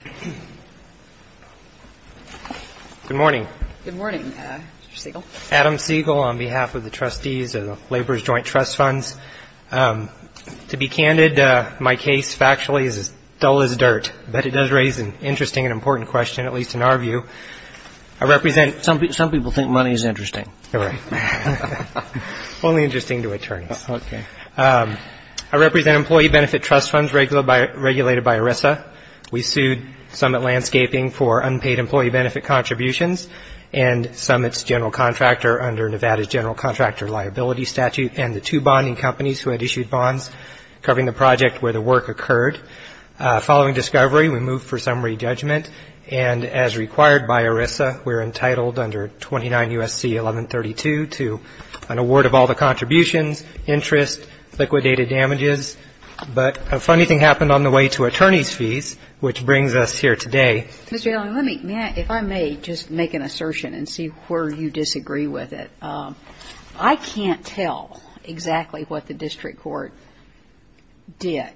Good morning. Good morning, Mr. Siegel. Adam Siegel on behalf of the Trustees of Labor's Joint Trust Funds. To be candid, my case factually is as dull as dirt, but it does raise an interesting and important question, at least in our view. I represent... Some people think money is interesting. Right. Only interesting to attorneys. Okay. I represent Employee Benefit Trust Funds regulated by ERISA. We sued Summit Landscaping for unpaid employee benefit contributions and Summit's general contractor under Nevada's general contractor liability statute and the two bonding companies who had issued bonds covering the project where the work occurred. Following discovery, we moved for summary judgment, and as required by ERISA, we're entitled under 29 U.S.C. 1132 to an award of all the contributions, interest, liquidated damages. But a funny thing happened on the way to attorneys' fees, which brings us here today. Mr. Allen, let me, if I may, just make an assertion and see where you disagree with it. I can't tell exactly what the district court did.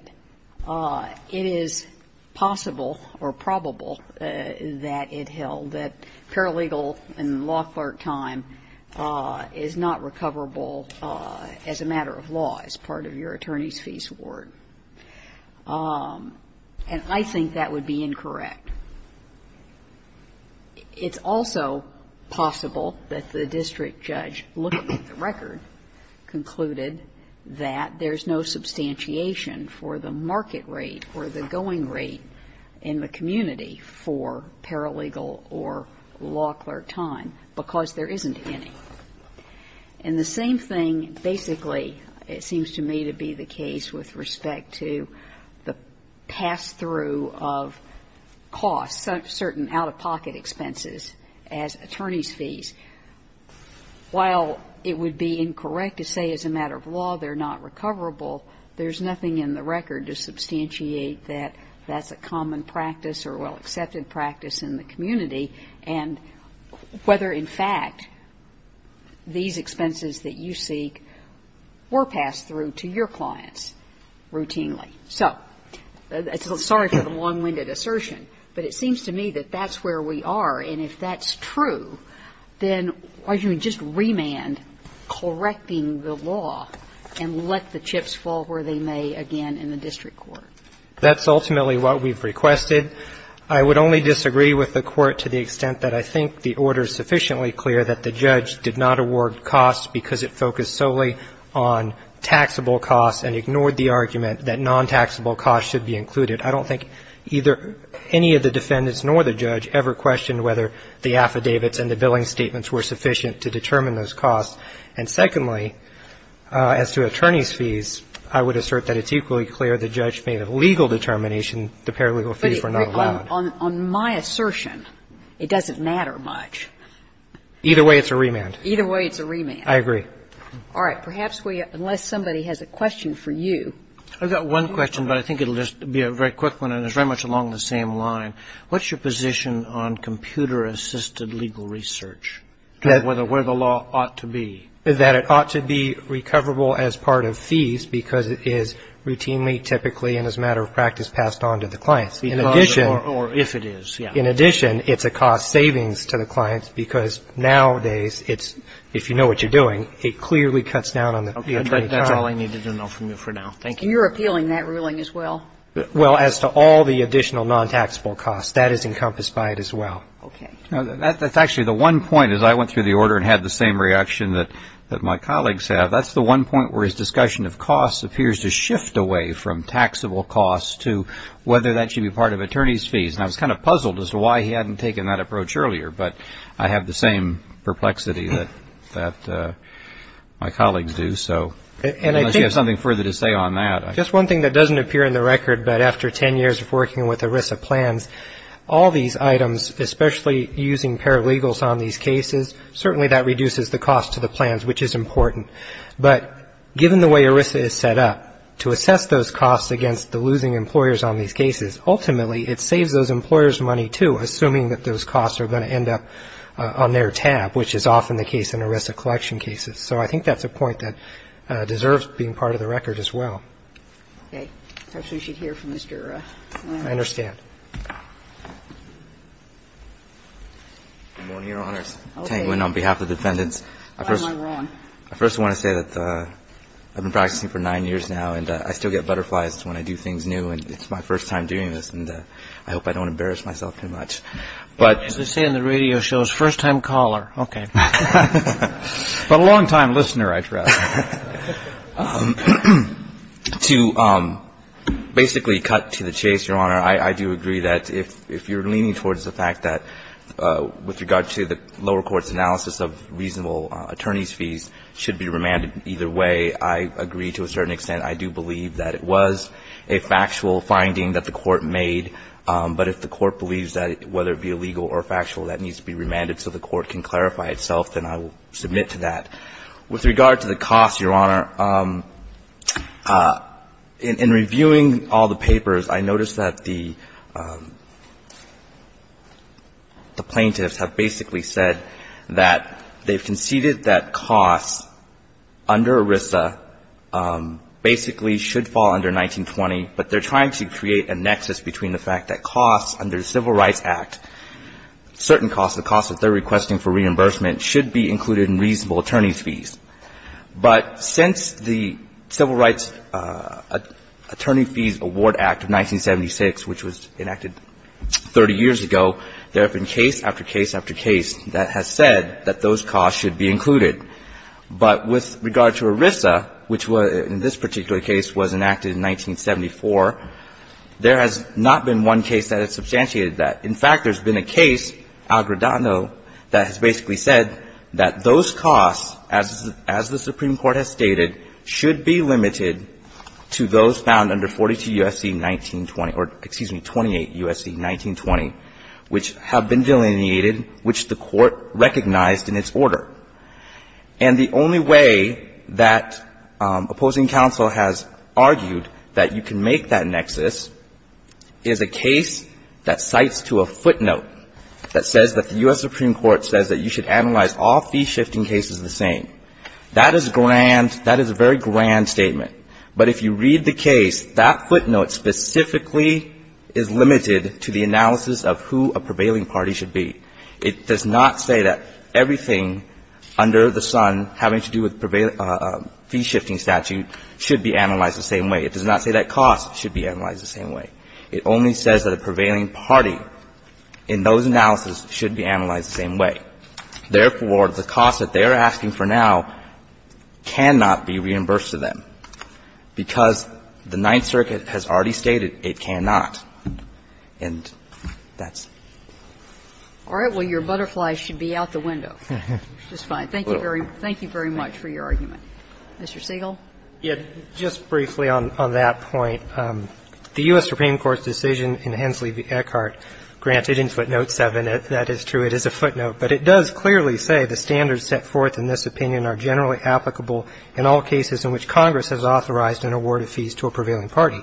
It is possible or probable that it held that paralegal and law clerk time is not recoverable as a matter of law, as part of your attorney's fees award. And I think that would be incorrect. It's also possible that the district judge looking at the record concluded that there's no substantiation for the market rate or the going rate in the community for paralegal or law clerk time because there isn't any. And the same thing, basically, it seems to me to be the case with respect to the pass-through of costs, certain out-of-pocket expenses as attorney's fees. While it would be incorrect to say as a matter of law they're not recoverable, there's nothing in the record to substantiate that that's a common practice or well-accepted practice in the community and whether, in fact, these expenses that you seek were passed through to your clients routinely. So sorry for the long-winded assertion, but it seems to me that that's where we are. And if that's true, then why don't you just remand correcting the law and let the chips fall where they may again in the district court? That's ultimately what we've requested. I would only disagree with the Court to the extent that I think the order is sufficiently clear that the judge did not award costs because it focused solely on taxable costs and ignored the argument that non-taxable costs should be included. I don't think either any of the defendants nor the judge ever questioned whether the affidavits and the billing statements were sufficient to determine those costs. And secondly, as to attorney's fees, I would assert that it's equally clear the judge made a legal determination the paralegal fees were not allowed. But on my assertion, it doesn't matter much. Either way, it's a remand. Either way, it's a remand. I agree. All right. Perhaps we unless somebody has a question for you. I've got one question, but I think it'll just be a very quick one, and it's very much along the same line. What's your position on computer-assisted legal research, whether where the law ought to be? That it ought to be recoverable as part of fees because it is routinely, typically, and as a matter of practice passed on to the clients. In addition. Or if it is, yes. In addition, it's a cost savings to the clients because nowadays it's, if you know what you're doing, it clearly cuts down on the attorney's time. That's all I need to know from you for now. Thank you. You're appealing that ruling as well? Well, as to all the additional non-taxable costs, that is encompassed by it as well. Okay. That's actually the one point as I went through the order and had the same reaction that my colleagues have. That's the one point where his discussion of costs appears to shift away from taxable costs to whether that should be part of attorney's fees. And I was kind of puzzled as to why he hadn't taken that approach earlier, but I have the same perplexity that my colleagues do. So unless you have something further to say on that. Just one thing that doesn't appear in the record, but after ten years of working with ERISA plans, all these items, especially using paralegals on these cases, certainly that reduces the cost to the plans, which is important. But given the way ERISA is set up, to assess those costs against the losing employers on these cases, ultimately, it saves those employers money too, assuming that those costs are going to end up on their tab, which is often the case in ERISA collection cases. So I think that's a point that deserves being part of the record as well. Okay. Perhaps we should hear from Mr. Lam. I understand. Good morning, Your Honors. Okay. Tang Wen on behalf of the defendants. Why am I wrong? I first want to say that I've been practicing for nine years now and I still get butterflies when I do things new and it's my first time doing this and I hope I don't embarrass myself too much. As they say on the radio shows, first time caller. Okay. But a longtime listener, I trust. To basically cut to the chase, Your Honor, I do agree that if you're leaning towards the fact that with regard to the lower court's analysis of reasonable attorney's fees should be remanded either way, I agree to a certain extent. I do believe that it was a factual finding that the court made, but if the court believes that whether it be legal or factual that needs to be remanded so the court can clarify itself, then I will submit to that. With regard to the costs, Your Honor, in reviewing all the papers, I noticed that the plaintiffs have basically said that they've conceded that costs under ERISA basically should fall under 1920, but they're trying to create a nexus between the fact that costs under the Civil Rights Act, certain costs, the costs that they're requesting for reimbursement should be included in reasonable attorney's fees. But since the Civil Rights Attorney Fees Award Act of 1976, which was enacted 30 years ago, there have been case after case after case that has said that those costs should be included. But with regard to ERISA, which in this particular case was enacted in 1974, there has not been one case that has substantiated that. In fact, there's been a case, Al-Gradano, that has basically said that those costs, as the Supreme Court has stated, should be limited to those found under 42 U.S.C. 1920 or, excuse me, 28 U.S.C. 1920, which have been delineated, which the court recognized in its order. And the only way that opposing counsel has argued that you can make that nexus is a case that cites to a footnote that says that the U.S. Supreme Court says that you should analyze all fee-shifting cases the same. That is grand. That is a very grand statement. But if you read the case, that footnote specifically is limited to the analysis of who a prevailing party should be. It does not say that everything under the sun having to do with fee-shifting statute should be analyzed the same way. It does not say that costs should be analyzed the same way. It only says that a prevailing party in those analyses should be analyzed the same way. Therefore, the cost that they are asking for now cannot be reimbursed to them, because the Ninth Circuit has already stated it cannot. And that's all right. All right. Well, your butterflies should be out the window. It's fine. Thank you very much for your argument. Mr. Siegel. Siegel. Just briefly on that point, the U.S. Supreme Court's decision in Hensley v. Eckhart, granted in footnote 7, that is true, it is a footnote, but it does clearly say the standards set forth in this opinion are generally applicable in all cases in which Congress has authorized an award of fees to a prevailing party.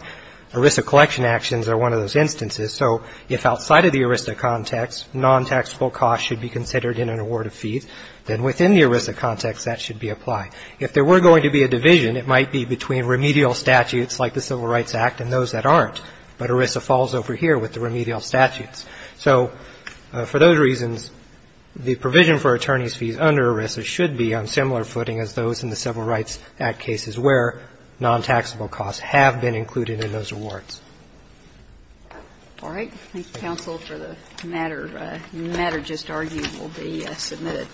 ERISA collection actions are one of those instances. So if outside of the ERISA context, non-taxable costs should be considered in an award of fees, then within the ERISA context that should be applied. If there were going to be a division, it might be between remedial statutes like the Civil Rights Act and those that aren't. But ERISA falls over here with the remedial statutes. So for those reasons, the provision for attorneys' fees under ERISA should be on similar footing as those in the Civil Rights Act cases where non-taxable costs have been included in those awards. MS. GOTTLIEB All right. Thank you, counsel, for the matter. The matter just argued will be submitted.